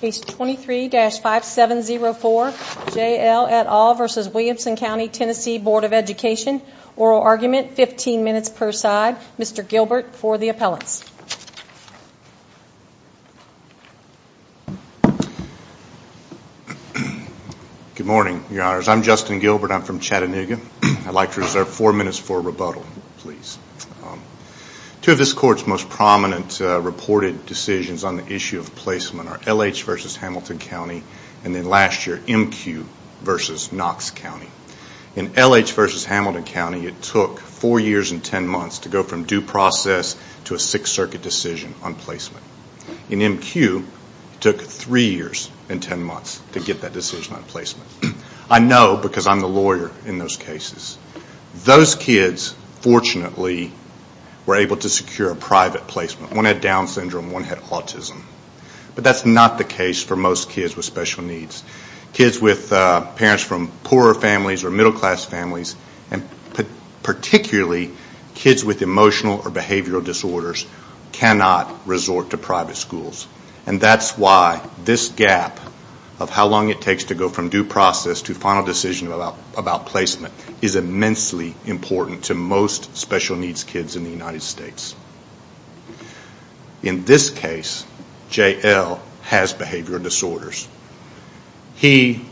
Page 23-5704 J L et al v. Williamson Co TN Board of Education Oral Argument, 15 minutes per side. Mr. Gilbert for the appellants. Good morning, your honors. I'm Justin Gilbert. I'm from Chattanooga. I'd like to reserve four minutes for rebuttal, please. Two of the court's most prominent reported decisions on the issue of placement are L.H. v. Hamilton County and then last year M.Q. v. Knox County. In L.H. v. Hamilton County, it took four years and ten months to go from due process to a Sixth Circuit decision on placement. In M.Q., it took three years and ten months to get that decision on placement. I know because I'm the lawyer in those cases. Those kids, fortunately, were able to secure a private placement. One had Down syndrome, one had autism. But that's not the case for most kids with special needs. Kids with parents from poorer families or middle class families, and particularly kids with emotional or behavioral disorders, cannot resort to private schools. And that's why this gap of how long it takes to go from due process to final decision of placement is immensely important to most special needs kids in the United States. In this case, J.L. has behavioral disorders. He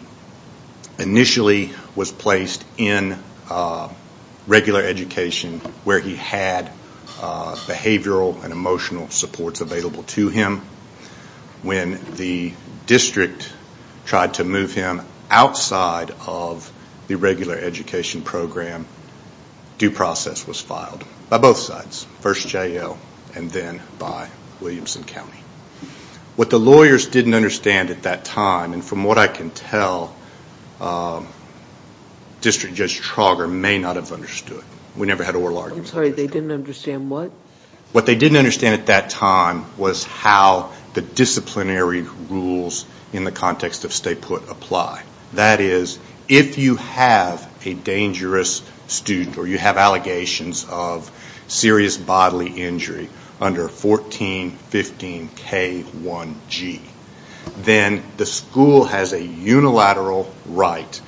initially was placed in regular education where he had behavioral and emotional supports available to him. When the district tried to move him outside of the regular education program, due process was filed by both sides, first J.L. and then by Williamson County. What the lawyers didn't understand at that time, and from what I can tell, District Judge Trauger may not have understood. We never had oral arguments. I'm sorry, they didn't understand what? What they didn't understand at that time was how the disciplinary rules in the context of statehood apply. That is, if you have a dangerous student or you have allegations of serious bodily injury under 1415K1G, then the school has a unilateral right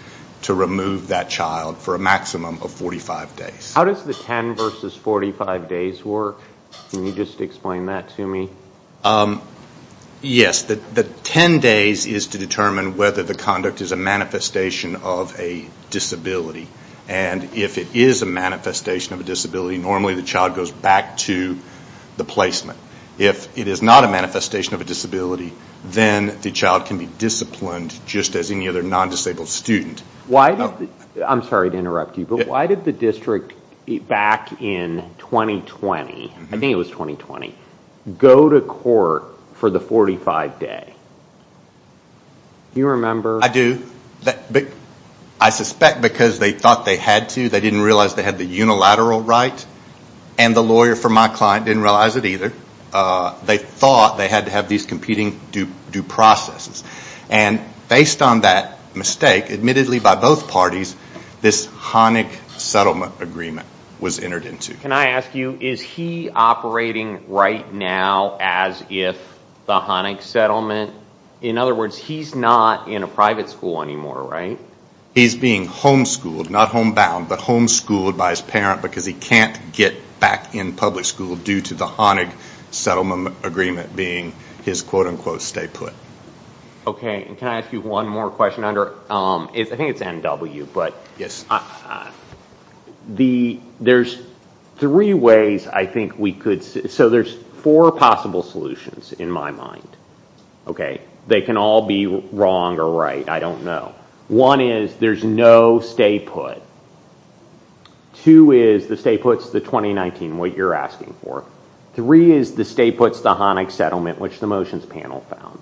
to remove that child for a maximum of 45 days. How does the 10 versus 45 days work? Can you just explain that to me? Yes, the 10 days is to determine whether the conduct is a manifestation of a disability. If it is a manifestation of a disability, normally the child goes back to the placement. If it is not a manifestation of a disability, then the child can be disciplined just as any other non-disabled student. I'm sorry to interrupt you, but why did the district back in 2020, I think it was 2020, go to court for the 45 day? Do you remember? I do. I suspect because they thought they had to, they didn't realize they had the unilateral right, and the lawyer for my client didn't realize it either. They thought they had to competing due processes. Based on that mistake, admittedly by both parties, this Honig Settlement Agreement was entered into. Can I ask you, is he operating right now as if the Honig Settlement, in other words, he's not in a private school anymore, right? He's being homeschooled, not homebound, but homeschooled by his parent because he can't get back in public school due to the Honig Settlement Agreement being his quote unquote stay put. Can I ask you one more question? I think it's NW, but there's three ways I think we could, so there's four possible solutions in my mind. They can all be wrong or right, I don't know. One is there's no stay put. Two is the stay put's the 2019, what you're asking for. Three is the stay put's the Honig Settlement, which the motions panel found.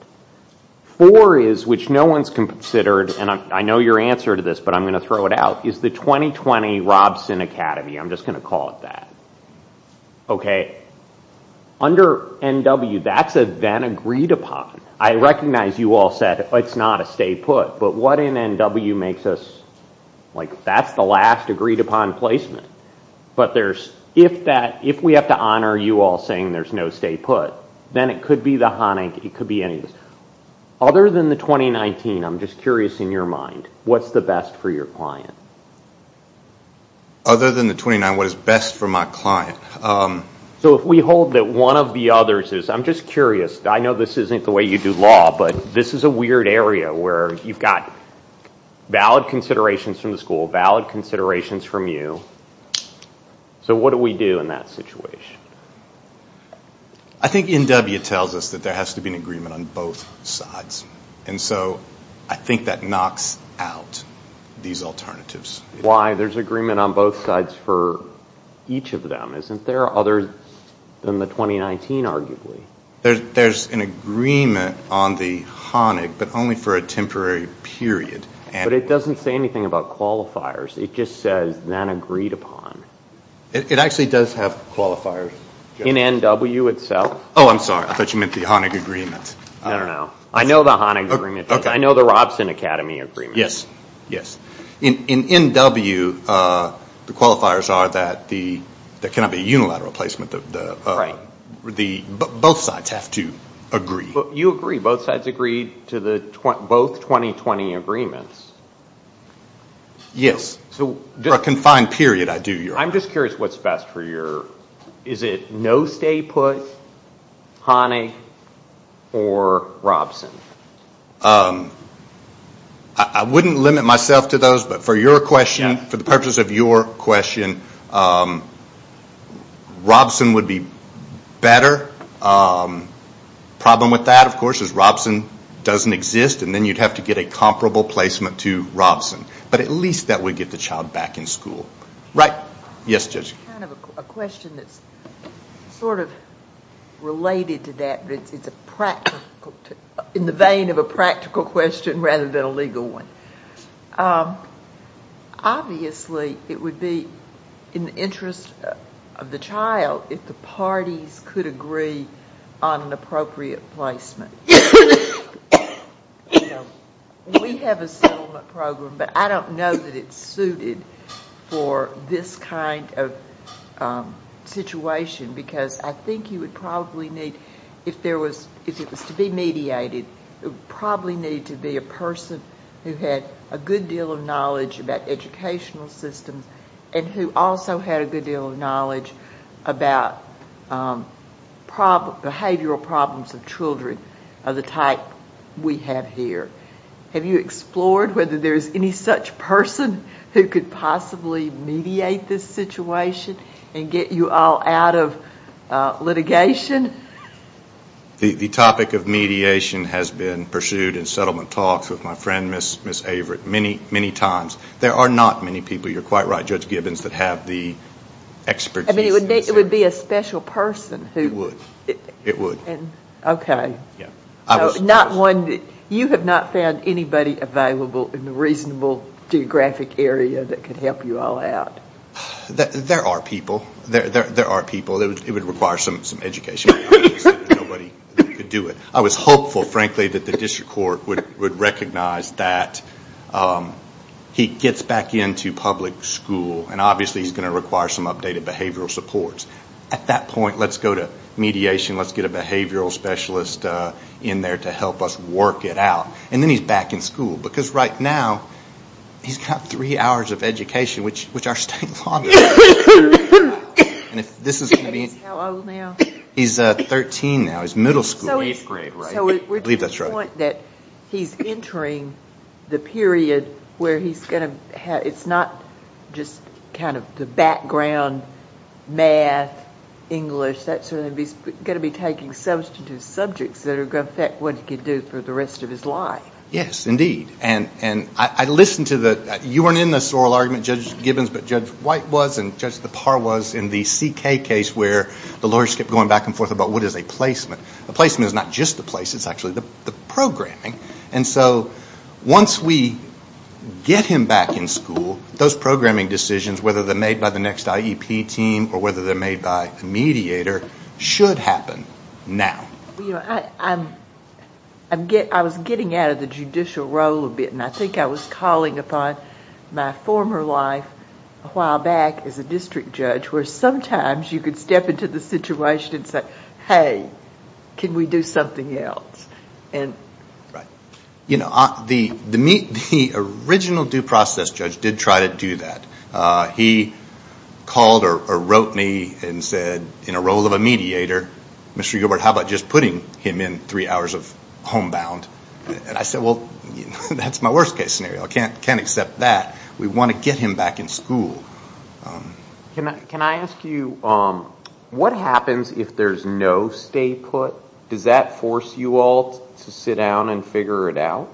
Four is, which no one's considered, and I know your answer to this, but I'm going to throw it out, is the 2020 Robson Academy. I'm just going to call it that. Under NW, that's a then agreed upon. I recognize you all said it's not a stay put, but what NW makes us, like that's the last agreed upon placement, but if we have to honor you all saying there's no stay put, then it could be the Honig, it could be any of these. Other than the 2019, I'm just curious in your mind, what's the best for your client? Other than the 2019, what is best for my client? So if we hold that one of the others is, I'm just curious, I know this isn't the way you do law, but this is a weird area where you've got valid considerations from the school, valid considerations from you, so what do we do in that situation? I think NW tells us that there has to be an agreement on both sides, and so I think that knocks out these alternatives. Why there's agreement on both sides for each of them, isn't there, other than the 2019 arguably? There's an agreement on the Honig, but only for a temporary period. But it doesn't say anything about qualifiers, it just says, not agreed upon. It actually does have qualifiers. In NW itself? Oh, I'm sorry, I thought you meant the Honig agreement. I don't know. I know the Honig agreement, but I know the Robson Academy agreement. Yes, yes. In NW, the qualifiers are that there cannot be a unilateral placement. Both sides have to agree. You agree, both sides agree to both 2020 agreements. Yes, for a confined period, I do. I'm just curious what's best for your, is it no stay put, Honig, or Robson? I wouldn't limit myself to those, but for the purpose of your question, Robson would be better. Problem with that, of course, is Robson doesn't exist, and then you'd have to get a comparable placement to Robson. But at least that would get the child back in school. Right? Yes, Judge. It's kind of a question that's sort of related to that, but it's a practical, in the vein of a practical question rather than a legal one. Obviously, it would be in the interest of the child if the parties could agree on an appropriate placement. We have a settlement program, but I don't know that it's suited for this kind of situation because I think you would probably need, if it was to be mediated, it would probably need to be a person who had a good deal of knowledge about educational systems and who also had a good deal of knowledge about behavioral problems of children of the type we have here. Have you explored whether there's any such person who could possibly mediate this situation and get you all out of litigation? The topic of mediation has been pursued in settlement talks with my friend, Ms. Averitt, many times. There are not many people. You're quite right, Judge Gibbons, that have the expertise in this area. I mean, it would be a special person who... It would. Okay. Yeah. I was... You have not found anybody available in the reasonable geographic area that could help you all out? There are people. There are people. It would require some education. Nobody could do it. I was hopeful, frankly, that the district court would recognize that he gets back into public school, and obviously he's going to require some updated behavioral supports. At that point, let's go to mediation. Let's get a behavioral specialist in there to help us work it out. And then he's back in school, because right now, he's got three hours of education, which our state law... And if this is... And he's how old now? He's 13 now. He's middle school. Eighth grade, right? I believe that's right. So we're to the point that he's entering the period where he's going to have... It's not just kind of the background math, English. That's going to be... He's going to be taking substantive subjects that are going to affect what he can do for the rest of his life. Yes. Indeed. And I listened to the... You weren't in the oral argument, Judge Gibbons, but Judge White was, and Judge DePauw was in the CK case where the lawyers kept going back and forth about what is a placement. A placement is not just the place. It's actually the programming. And so once we get him back in school, those programming decisions, whether they're made by the next IEP team or whether they're made by a mediator, should happen now. I was getting out of the judicial role a bit, and I think I was calling upon my former life a while back as a district judge, where sometimes you could step into the situation and say, Hey, can we do something else? And... You know, the original due process judge did try to do that. He called or wrote me and said, in a role of a mediator, Mr. Gilbert, how about just putting him in three hours of homebound? And I said, well, that's my worst case scenario. I can't accept that. We want to get him back in school. Can I ask you, what happens if there's no stay put? Does that force you all to sit down and figure it out?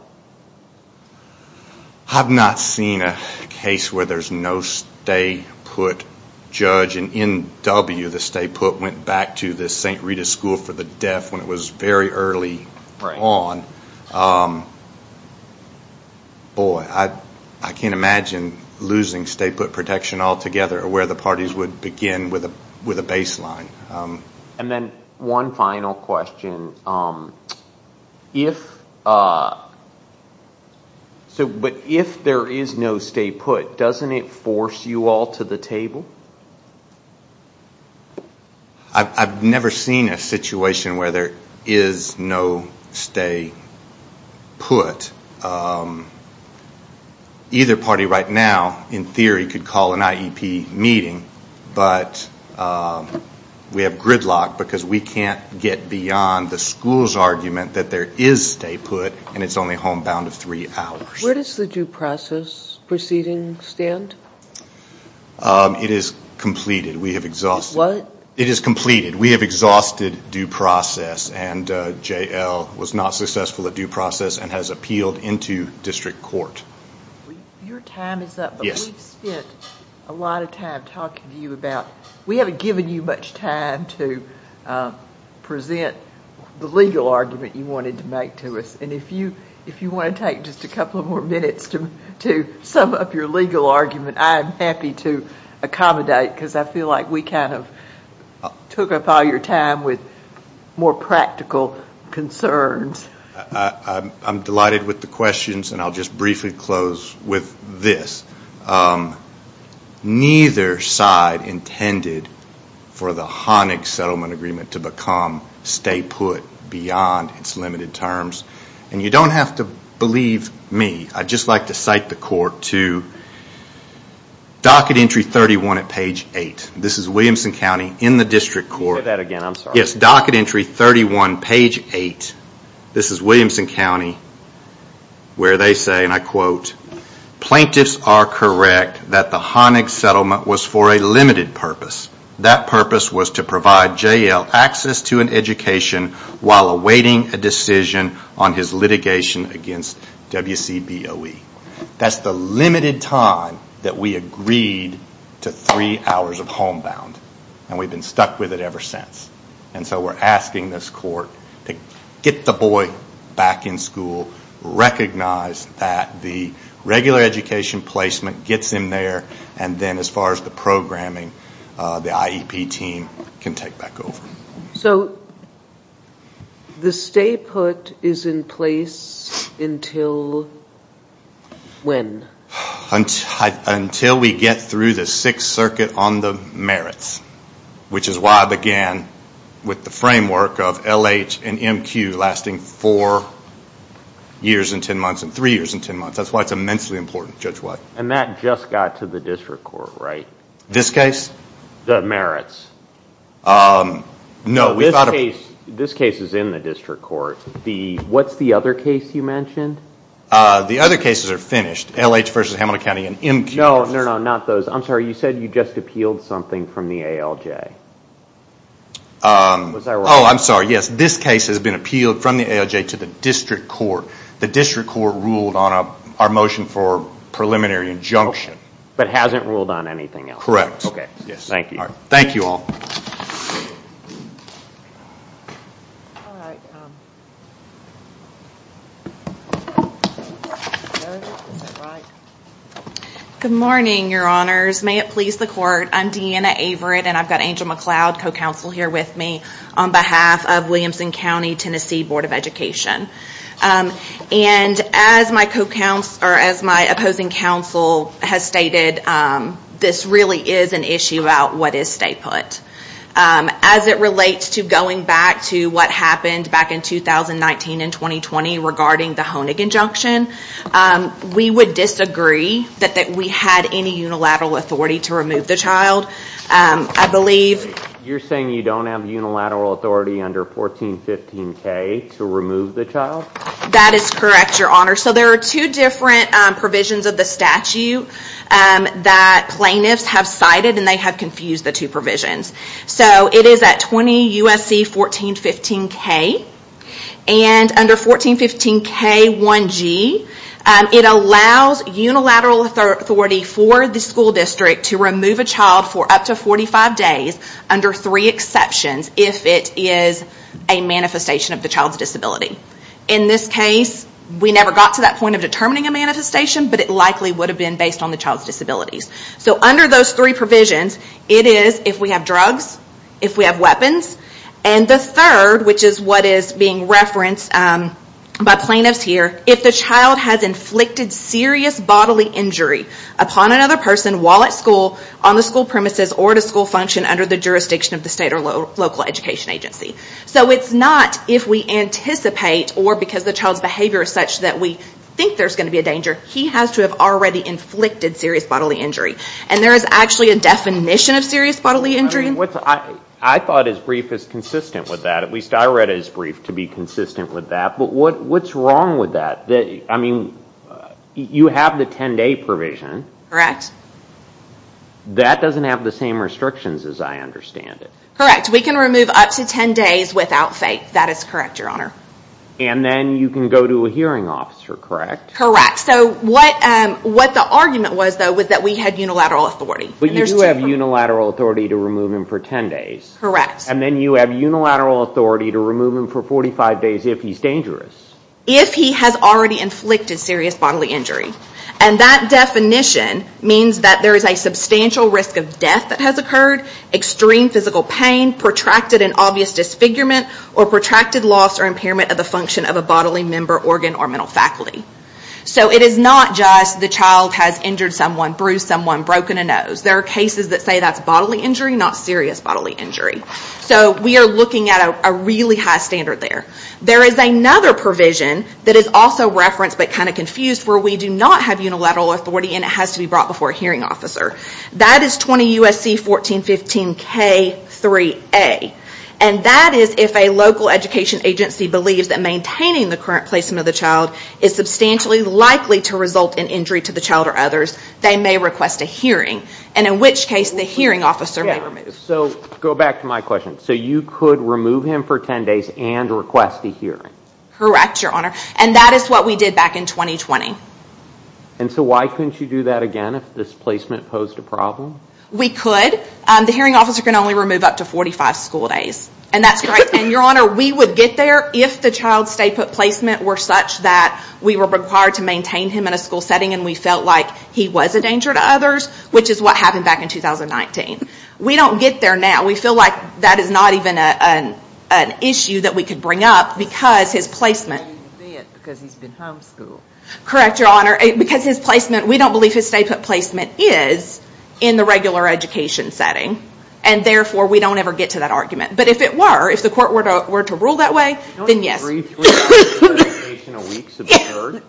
I've not seen a case where there's no stay put judge, and in W, the stay put went back to the St. Rita School for the Deaf when it was very early on. Boy, I can't imagine losing stay put protection altogether, or where the parties would begin with a baseline. And then one final question, but if there is no stay put, doesn't it force you all to the table? I've never seen a situation where there is no stay put. Either party right now, in theory, could call an IEP meeting, but we have gridlocked because we can't get beyond the school's argument that there is stay put, and it's only homebound of three hours. Where does the due process proceeding stand? It is completed, we have exhausted due process, and J.L. was not successful at due process and has appealed into district court. Your time is up, but we've spent a lot of time talking to you about, we haven't given you much time to present the legal argument you wanted to make to us, and if you want to take just a couple of more minutes to sum up your legal argument, I am happy to accommodate, because I feel like we kind of took up all your time with more practical concerns. I'm delighted with the questions, and I'll just briefly close with this. Neither side intended for the Honig Settlement Agreement to become stay put beyond its limited terms, and you don't have to believe me, I'd just like to cite the court to Docket Entry 31 at page 8. This is Williamson County in the district court. Can you say that again, I'm sorry. Yes, Docket Entry 31, page 8. This is Williamson County, where they say, and I quote, Plaintiffs are correct that the Honig Settlement was for a limited purpose. That purpose was to provide JL access to an education while awaiting a decision on his litigation against WCBOE. That's the limited time that we agreed to three hours of home bound, and we've been stuck with it ever since. And so we're asking this court to get the boy back in school, recognize that the regular education placement gets him there, and then as far as the programming, the IEP team can take back over. So the stay put is in place until when? Until we get through the Sixth Circuit on the merits, which is why I began with the framework of LH and MQ lasting four years and ten months, and three years and ten months. That's why it's immensely important, judge White. And that just got to the district court, right? This case? The merits. No. This case is in the district court. What's the other case you mentioned? The other cases are finished. LH versus Hamilton County and MQ. No, no, no, not those. I'm sorry, you said you just appealed something from the ALJ. Oh, I'm sorry, yes. This case has been appealed from the ALJ to the district court. The district court ruled on our motion for preliminary injunction. But hasn't ruled on anything else? Okay, thank you. Thank you all. Good morning, your honors. May it please the court, I'm Deanna Averitt, and I've got Angel McLeod, co-counsel, here with me on behalf of Williamson County, Tennessee Board of Education. And as my opposing counsel has stated, this really is an issue about what is state put. As it relates to going back to what happened back in 2019 and 2020 regarding the Honig injunction, we would disagree that we had any unilateral authority to remove the child. I believe... You're saying you don't have unilateral authority under 1415K to remove the child? That is correct, your honors. So there are two different provisions of the statute that plaintiffs have cited, and they have confused the two provisions. So it is at 20 U.S.C. 1415K, and under 1415K1G, it allows unilateral authority for the school district to remove a child for up to 45 days under three exceptions if it is a manifestation of the child's disability. In this case, we never got to that point of determining a manifestation, but it likely would have been based on the child's disabilities. So under those three provisions, it is if we have drugs, if we have weapons, and the third, which is what is being referenced by plaintiffs here, if the child has inflicted serious bodily injury upon another person while at school, on the school premises, or at a school function under the jurisdiction of the state or local education agency. So it's not if we anticipate or because the child's behavior is such that we think there's going to be a danger. He has to have already inflicted serious bodily injury. And there is actually a definition of serious bodily injury. I thought his brief is consistent with that. At least I read his brief to be consistent with that. But what's wrong with that? I mean, you have the 10-day provision. That doesn't have the same restrictions as I understand it. Correct. We can remove up to 10 days without fake. That is correct, Your Honor. And then you can go to a hearing officer, correct? Correct. So what the argument was, though, was that we had unilateral authority. But you do have unilateral authority to remove him for 10 days. Correct. And then you have unilateral authority to remove him for 45 days if he's dangerous. If he has already inflicted serious bodily injury. And that definition means that there is a substantial risk of death that has occurred, extreme physical pain, protracted and obvious disfigurement, or protracted loss or impairment of the function of a bodily member, organ, or mental faculty. So it is not just the child has injured someone, bruised someone, broken a nose. There are cases that say that's bodily injury, not serious bodily injury. So we are looking at a really high standard there. There is another provision that is also referenced but kind of confused where we do not have unilateral authority and it has to be brought before a hearing officer. That is 20 U.S.C. 1415 K3A. And that is if a local education agency believes that maintaining the current placement of the child is substantially likely to result in injury to the child or others, they may request a hearing and in which case the hearing officer may remove. So go back to my question. So you could remove him for 10 days and request a hearing? Correct, Your Honor. And that is what we did back in 2020. And so why couldn't you do that again if this placement posed a problem? We could. The hearing officer can only remove up to 45 school days. And that's correct. And, Your Honor, we would get there if the child's placement were such that we were required to maintain him in a school setting and we felt like he was a danger to others, which is what happened back in 2019. We don't get there now. We feel like that is not even an issue that we could bring up because his placement. Because he's been homeschooled. Correct, Your Honor. Because his placement, we don't believe his placement is in the regular education setting. And, therefore, we don't ever get to that argument. But if it were, if the court were to rule that way, then yes. Don't you agree three hours of education a week is absurd?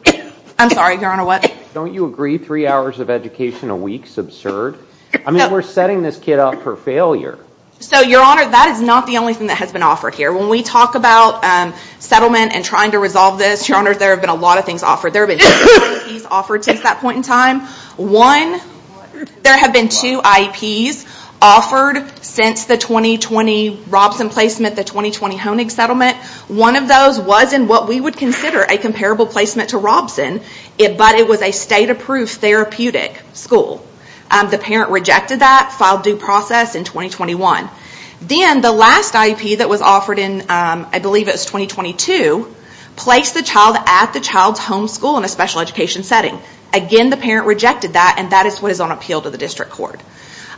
I'm sorry, Your Honor, what? Don't you agree three hours of education a week is absurd? I mean, we're setting this kid up for failure. So, Your Honor, that is not the only thing that has been offered here. When we talk about settlement and trying to resolve this, Your Honor, there have been a lot of things offered. There have been two IEPs offered since that point in time. One, there have been two IEPs offered since the 2020 Robson placement, the 2020 Honig settlement. One of those was in what we would consider a comparable placement to Robson, but it was a state-approved therapeutic school. The parent rejected that, filed due process in 2021. Then, the last IEP that was offered in, I believe it was 2022, placed the child at the child's homeschool in a special education setting. Again, the parent rejected that, and that is what is on appeal to the district court.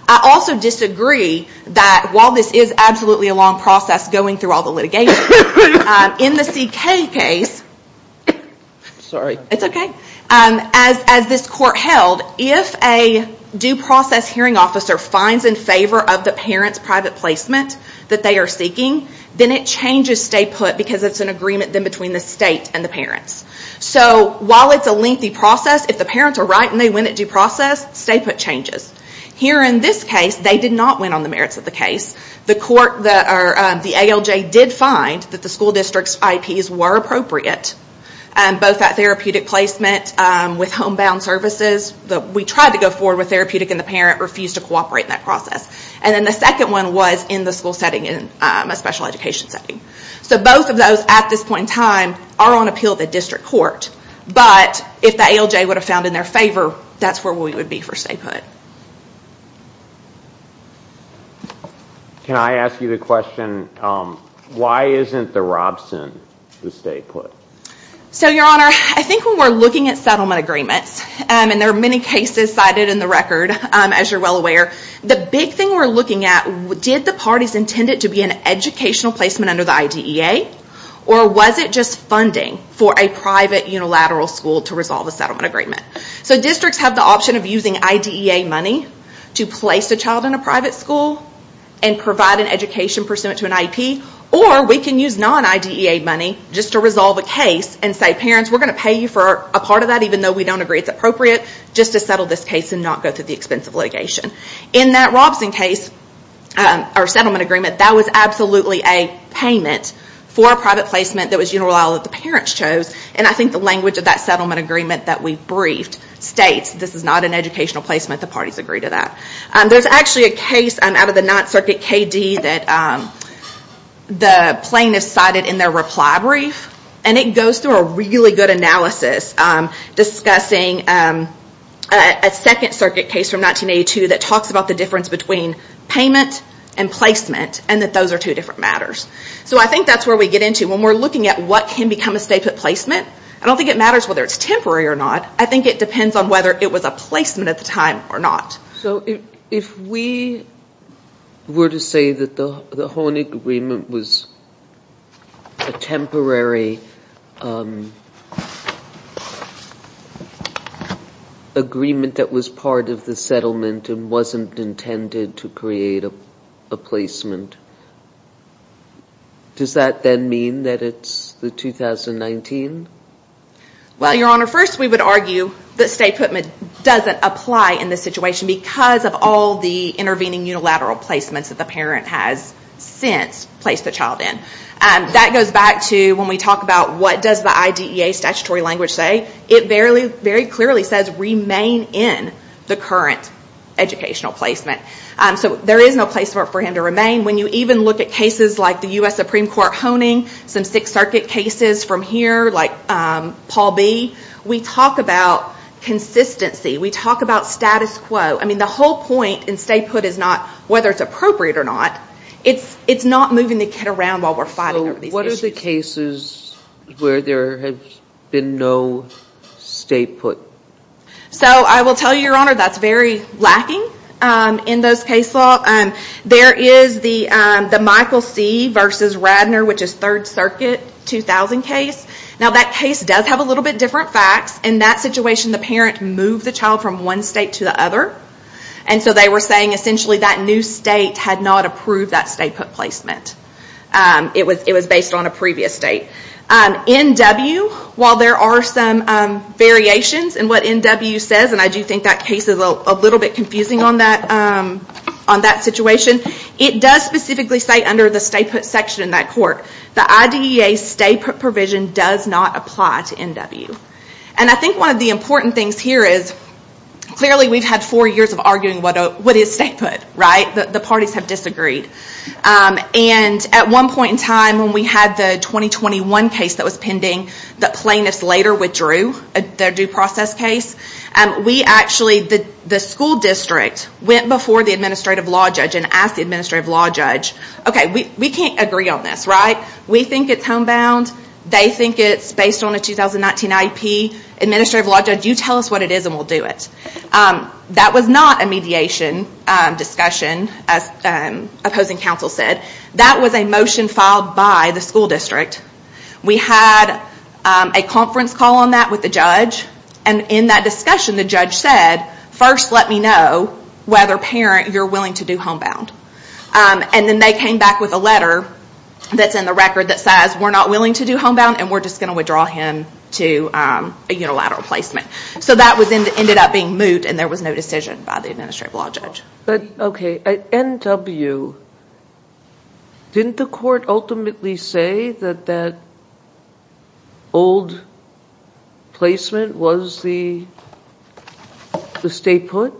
I also disagree that while this is absolutely a long process going through all the litigation, in the CK case, as this court held, if a due process hearing officer finds in favor of the parent's private placement that they are seeking, then it changes stay put because it's an agreement then between the state and the parents. While it's a lengthy process, if the parents are right and they win at due process, stay put changes. Here in this case, they did not win on the merits of the case. The ALJ did find that the school district's IEPs were appropriate, both at therapeutic placement with homebound services. We tried to go forward with therapeutic, and the parent refused to cooperate in that process. The second one was in the school setting, in a special education setting. Both of those, at this point in time, are on appeal to the district court, but if the ALJ would have found in their favor, that's where we would be for stay put. Can I ask you the question, why isn't the Robson the stay put? Your Honor, I think when we're looking at settlement agreements, and there are many cases cited in the record, as you're well aware, the big thing we're looking at, did the parties intend it to be an educational placement under the IDEA, or was it just funding for a private unilateral school to resolve a settlement agreement? Districts have the option of using IDEA money to place a child in a private school, and provide an education pursuant to an IEP, or we can use non-IDEA money just to resolve a case, and say, parents, we're going to pay you for a part of that, even though we don't agree it's appropriate, just to settle this case and not go through the expensive litigation. In that Robson case, our settlement agreement, that was absolutely a payment for a private placement that was unilateral that the parents chose, and I think the language of that settlement agreement that we briefed states, this is not an educational placement, the parties agree to that. There's actually a case out of the Ninth Circuit, KD, that the plaintiff cited in their reply brief, and it goes through a really good analysis discussing a Second Circuit case from 1982 that talks about the difference between payment and placement, and that those are two different matters. So I think that's where we get into, when we're looking at what can become a state placement, I don't think it matters whether it's temporary or not. I think it depends on whether it was a placement at the time or not. So if we were to say that the Hornig agreement was a temporary agreement that was part of the settlement and wasn't intended to create a placement, does that then mean that it's the 2019? Well, Your Honor, first we would argue that state placement doesn't apply in this situation because of all the intervening unilateral placements that the parent has since placed the child in. That goes back to when we talk about what does the IDEA statutory language say? It very clearly says, remain in the current educational placement. So there is no place for him to remain. When you even look at cases like the U.S. Supreme Court Horning, some Sixth Circuit cases from here, like Paul B., we talk about consistency. We talk about status quo. I mean, the whole point in statehood is not whether it's appropriate or not. It's not moving the kid around while we're fighting over these issues. So what are the cases where there has been no statehood? So I will tell you, Your Honor, that's very lacking in those case law. There is the Michael C. v. Radner, which is Third Circuit, 2000 case. Now that case does have a little bit different facts. In that situation, the parent moved the child from one state to the other. And so they were saying essentially that new state had not approved that state placement. It was based on a previous state. NW, while there are some variations in what NW says, and I do think that case is a little bit confusing on that situation, it does specifically say under the statehood section in that court, the IDEA statehood provision does not apply to NW. And I think one of the important things here is clearly we've had four years of arguing what is statehood, right? The parties have disagreed. And at one point in time, when we had the 2021 case that was pending, the plaintiffs later withdrew their due process case. We actually, the school district, went before the administrative law judge and asked the administrative law judge, okay, we can't agree on this, right? We think it's homebound. They think it's based on a 2019 IEP. Administrative law judge, you tell us what it is and we'll do it. That was not a mediation discussion, as opposing counsel said. That was a motion filed by the school district. We had a conference call on that with the judge, and in that discussion, the judge said, first let me know whether, parent, you're willing to do homebound. And then they came back with a letter that's in the record that says, we're not willing to do homebound and we're just going to withdraw him to a unilateral placement. So that ended up being moot and there was no decision by the administrative law judge. But, okay, NW, didn't the court ultimately say that that old placement was the state put?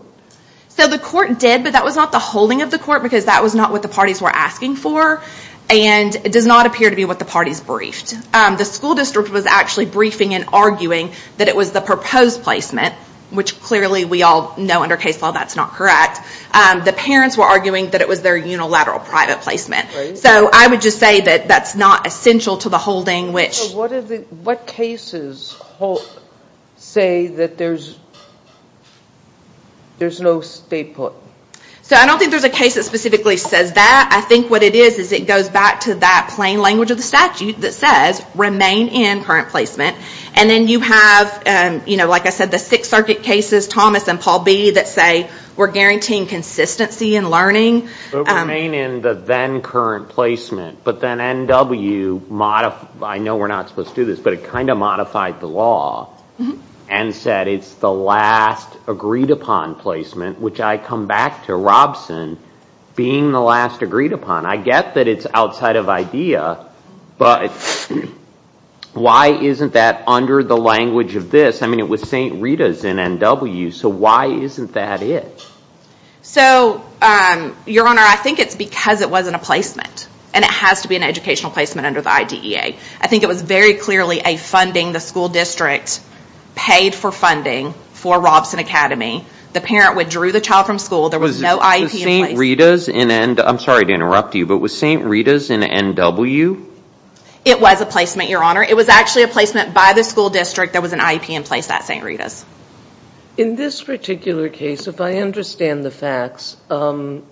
So the court did, but that was not the holding of the court because that was not what the parties were asking for, and it does not appear to be what the parties briefed. The school district was actually briefing and arguing that it was the proposed placement, which clearly we all know under case law that's not correct. The parents were arguing that it was their unilateral private placement. So I would just say that that's not essential to the holding. What cases say that there's no state put? So I don't think there's a case that specifically says that. I think what it is is it goes back to that plain language of the statute that says, remain in current placement. And then you have, like I said, the Sixth Circuit cases, Thomas and Paul B, that say we're guaranteeing consistency in learning. Remain in the then current placement, but then NW, I know we're not supposed to do this, but it kind of modified the law and said it's the last agreed upon placement, which I come back to Robson being the last agreed upon. I get that it's outside of idea, but why isn't that under the language of this? I mean, it was St. Rita's in NW, so why isn't that it? So, Your Honor, I think it's because it wasn't a placement. And it has to be an educational placement under the IDEA. I think it was very clearly a funding the school district paid for funding for Robson Academy. The parent withdrew the child from school. There was no IEP in place. I'm sorry to interrupt you, but was St. Rita's in NW? It was a placement, Your Honor. It was actually a placement by the school district. There was an IEP in place at St. Rita's. In this particular case, if I understand the facts, there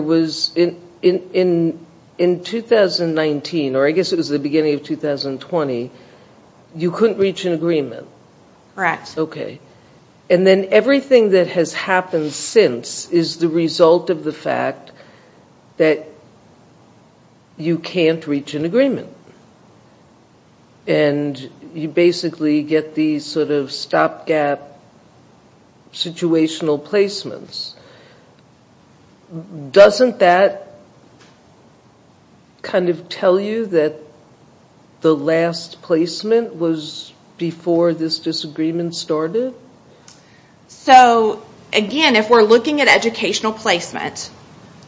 was in 2019, or I guess it was the beginning of 2020, you couldn't reach an agreement. Correct. Okay. And then everything that has happened since is the result of the fact that you can't reach an agreement. And you basically get these sort of stopgap situational placements. Doesn't that kind of tell you that the last placement was before this disagreement started? So, again, if we're looking at educational placement,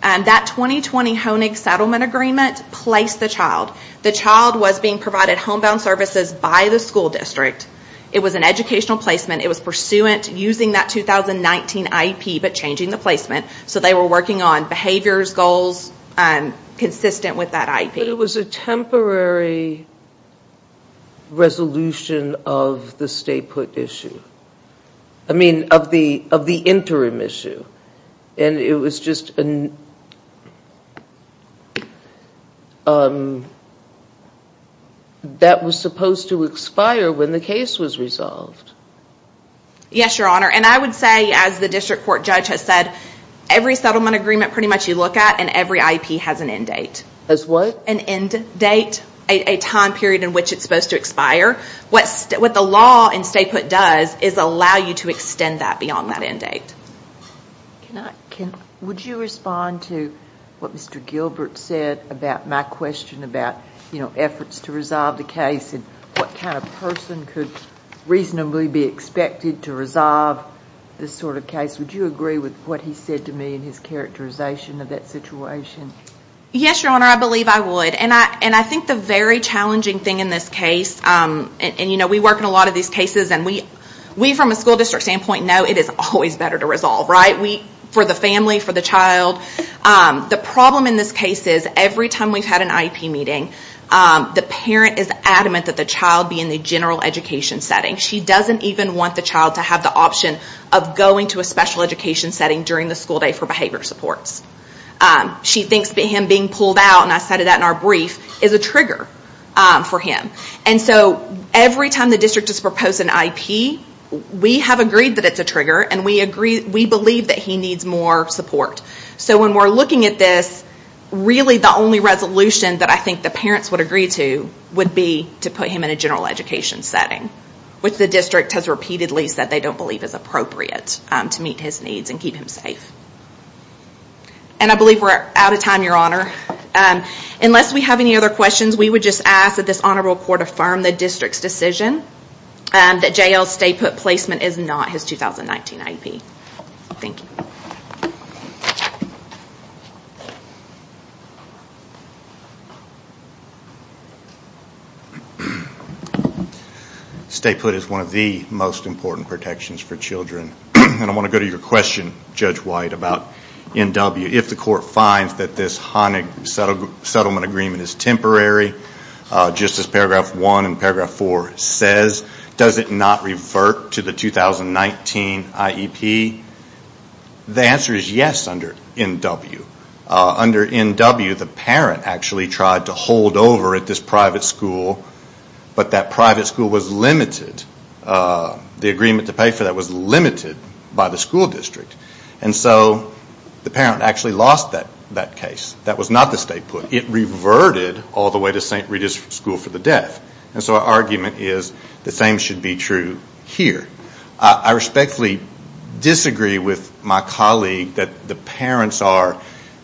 that 2020 Honig Settlement Agreement placed the child. The child was being provided homebound services by the school district. It was an educational placement. It was pursuant to using that 2019 IEP but changing the placement. So they were working on behaviors, goals consistent with that IEP. But it was a temporary resolution of the stay put issue. I mean, of the interim issue. And it was just, that was supposed to expire when the case was resolved. Yes, Your Honor. And I would say, as the district court judge has said, every settlement agreement pretty much you look at and every IEP has an end date. Has what? An end date, a time period in which it's supposed to expire. What the law in stay put does is allow you to extend that beyond that end date. Would you respond to what Mr. Gilbert said about my question about, you know, efforts to resolve the case and what kind of person could reasonably be expected to resolve this sort of case? Would you agree with what he said to me in his characterization of that situation? Yes, Your Honor. I believe I would. And I think the very challenging thing in this case, and, you know, we work in a lot of these cases and we from a school district standpoint know it is always better to resolve, right? For the family, for the child. The problem in this case is every time we've had an IEP meeting, the parent is adamant that the child be in the general education setting. She doesn't even want the child to have the option of going to a special education setting during the school day for behavior supports. She thinks him being pulled out, and I cited that in our brief, is a trigger for him. And so every time the district has proposed an IEP, we have agreed that it's a trigger and we believe that he needs more support. So when we're looking at this, really the only resolution that I think the parents would agree to would be to put him in a general education setting, which the district has repeatedly said they don't believe is appropriate to meet his needs and keep him safe. And I believe we're out of time, Your Honor. Unless we have any other questions, we would just ask that this honorable court affirm the district's decision that J.L.'s stay-put placement is not his 2019 IEP. Thank you. Stay-put is one of the most important protections for children. And I want to go to your question, Judge White, about NW. If the court finds that this Hanig settlement agreement is temporary, just as paragraph 1 and paragraph 4 says, does it not revert to the 2019 IEP? The answer is yes under NW. Under NW, the parent actually tried to hold over at this private school, but that private school was limited. The agreement to pay for that was limited by the school district. And so the parent actually lost that case. That was not the stay-put. It reverted all the way to St. Rita's School for the Deaf. And so our argument is the same should be true here. I respectfully disagree with my colleague that the parents are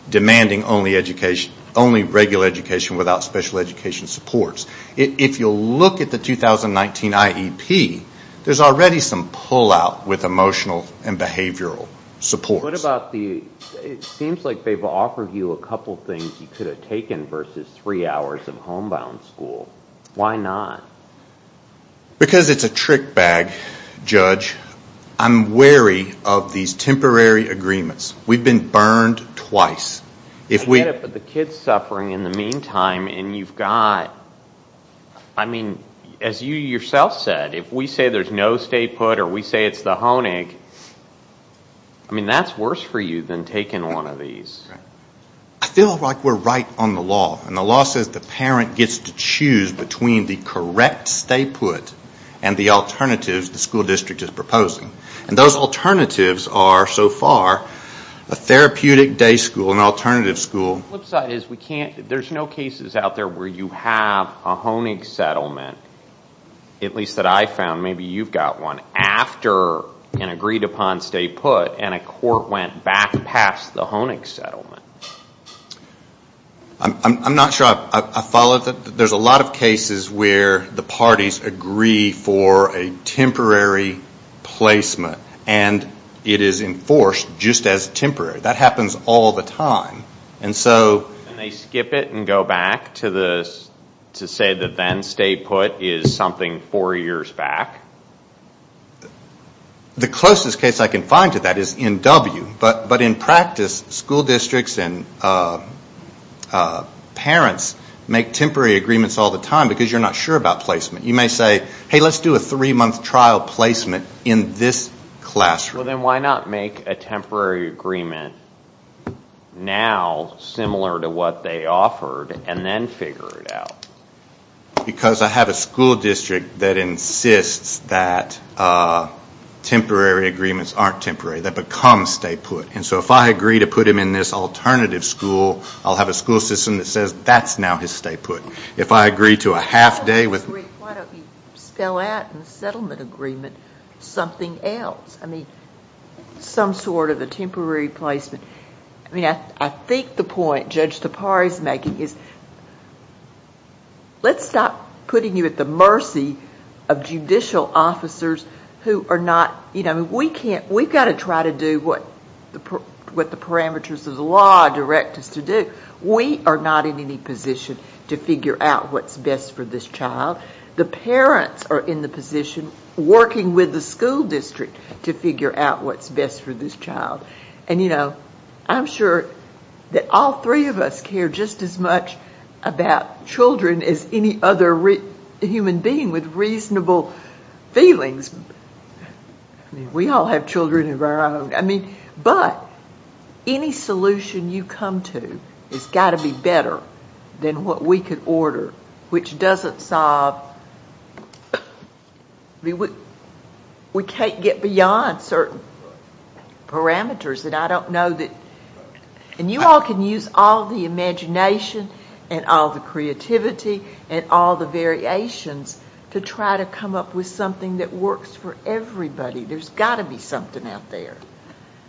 demanding only regular education without special education supports. If you look at the 2019 IEP, there's already some pullout with emotional and behavioral supports. It seems like they've offered you a couple things you could have taken versus three hours of homebound school. Why not? Because it's a trick bag, Judge. I'm wary of these temporary agreements. We've been burned twice. I get it, but the kid's suffering in the meantime and you've got, I mean, as you yourself said, if we say there's no stay-put or we say it's the Honig, I mean, that's worse for you than taking one of these. I feel like we're right on the law. And the law says the parent gets to choose between the correct stay-put and the alternatives the school district is proposing. And those alternatives are, so far, a therapeutic day school, an alternative school. The flip side is there's no cases out there where you have a Honig settlement, at least that I've found, maybe you've got one, after an agreed-upon stay-put and a court went back past the Honig settlement. I'm not sure I followed. There's a lot of cases where the parties agree for a temporary placement and it is enforced just as temporary. That happens all the time. And they skip it and go back to say the then stay-put is something four years back? The closest case I can find to that is in W. But in practice, school districts and parents make temporary agreements all the time because you're not sure about placement. You may say, hey, let's do a three-month trial placement in this classroom. Well, then why not make a temporary agreement now, similar to what they offered, and then figure it out? Because I have a school district that insists that temporary agreements aren't temporary. They become stay-put. And so if I agree to put him in this alternative school, I'll have a school system that says that's now his stay-put. If I agree to a half-day with- Why don't you spell out in the settlement agreement something else? I mean, some sort of a temporary placement. I think the point Judge Tapari is making is let's stop putting you at the mercy of judicial officers who are not- We've got to try to do what the parameters of the law direct us to do. We are not in any position to figure out what's best for this child. The parents are in the position, working with the school district, to figure out what's best for this child. I'm sure that all three of us care just as much about children as any other human being with reasonable feelings. I mean, we all have children of our own. But any solution you come to has got to be better than what we could order, which doesn't solve- We can't get beyond certain parameters that I don't know that- And you all can use all the imagination and all the creativity and all the variations to try to come up with something that works for everybody. There's got to be something out there.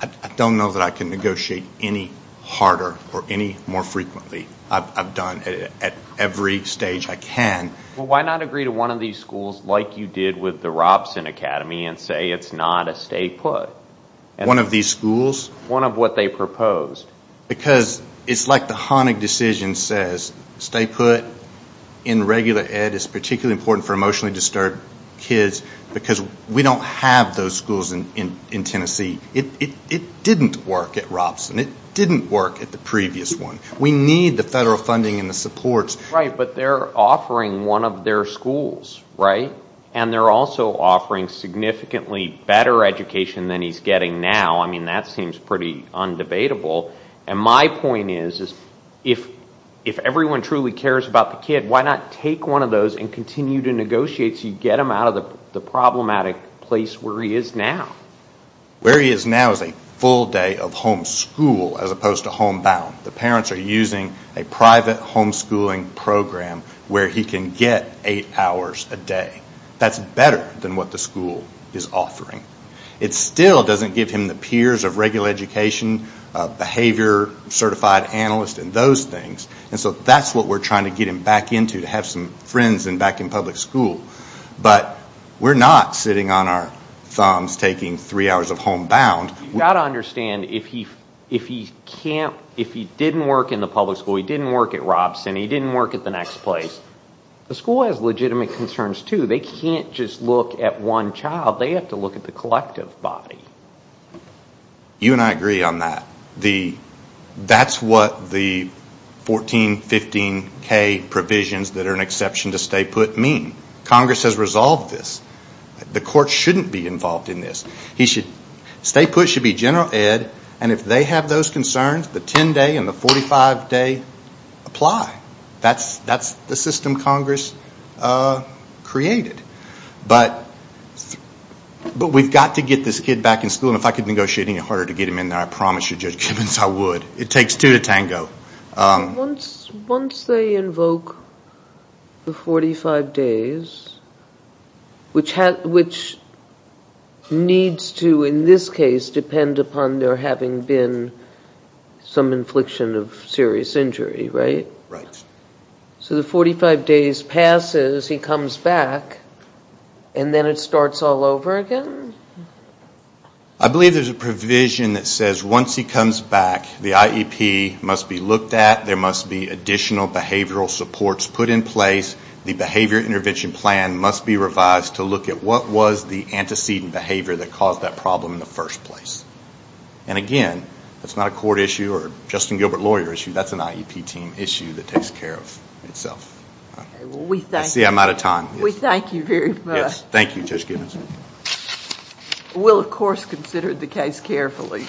I don't know that I can negotiate any harder or any more frequently. I've done it at every stage I can. Well, why not agree to one of these schools like you did with the Robson Academy and say it's not a stay put? One of these schools? One of what they proposed. Because it's like the Honig decision says, stay put in regular ed is particularly important for emotionally disturbed kids because we don't have those schools in Tennessee. It didn't work at Robson. It didn't work at the previous one. We need the federal funding and the supports. Right, but they're offering one of their schools, right? And they're also offering significantly better education than he's getting now. I mean, that seems pretty undebatable. And my point is, if everyone truly cares about the kid, why not take one of those and continue to negotiate so you get him out of the problematic place where he is now? Where he is now is a full day of home school as opposed to home bound. The parents are using a private home schooling program where he can get eight hours a day. That's better than what the school is offering. It still doesn't give him the peers of regular education, behavior certified analyst, and those things. And so that's what we're trying to get him back into, to have some friends back in public school. But we're not sitting on our thumbs taking three hours of home bound. You've got to understand, if he didn't work in the public school, he didn't work at Robson, he didn't work at the next place, the school has legitimate concerns too. They can't just look at one child. They have to look at the collective body. You and I agree on that. That's what the 14, 15K provisions that are an exception to stay put mean. Congress has resolved this. The court shouldn't be involved in this. Stay put should be general ed. And if they have those concerns, the 10 day and the 45 day apply. That's the system Congress created. But we've got to get this kid back in school. And if I could negotiate any harder to get him in there, I promise you, Judge Gibbons, I would. It takes two to tango. Once they invoke the 45 days, which needs to, in this case, depend upon there having been some infliction of serious injury, right? Right. So the 45 days passes, he comes back, and then it starts all over again? I believe there's a provision that says once he comes back, the IEP must be looked at. There must be additional behavioral supports put in place. The behavior intervention plan must be revised to look at what was the antecedent behavior that caused that problem in the first place. And, again, that's not a court issue or a Justin Gilbert lawyer issue. That's an IEP team issue that takes care of itself. I see I'm out of time. We thank you very much. Thank you, Judge Gibbons. We'll, of course, consider the case carefully.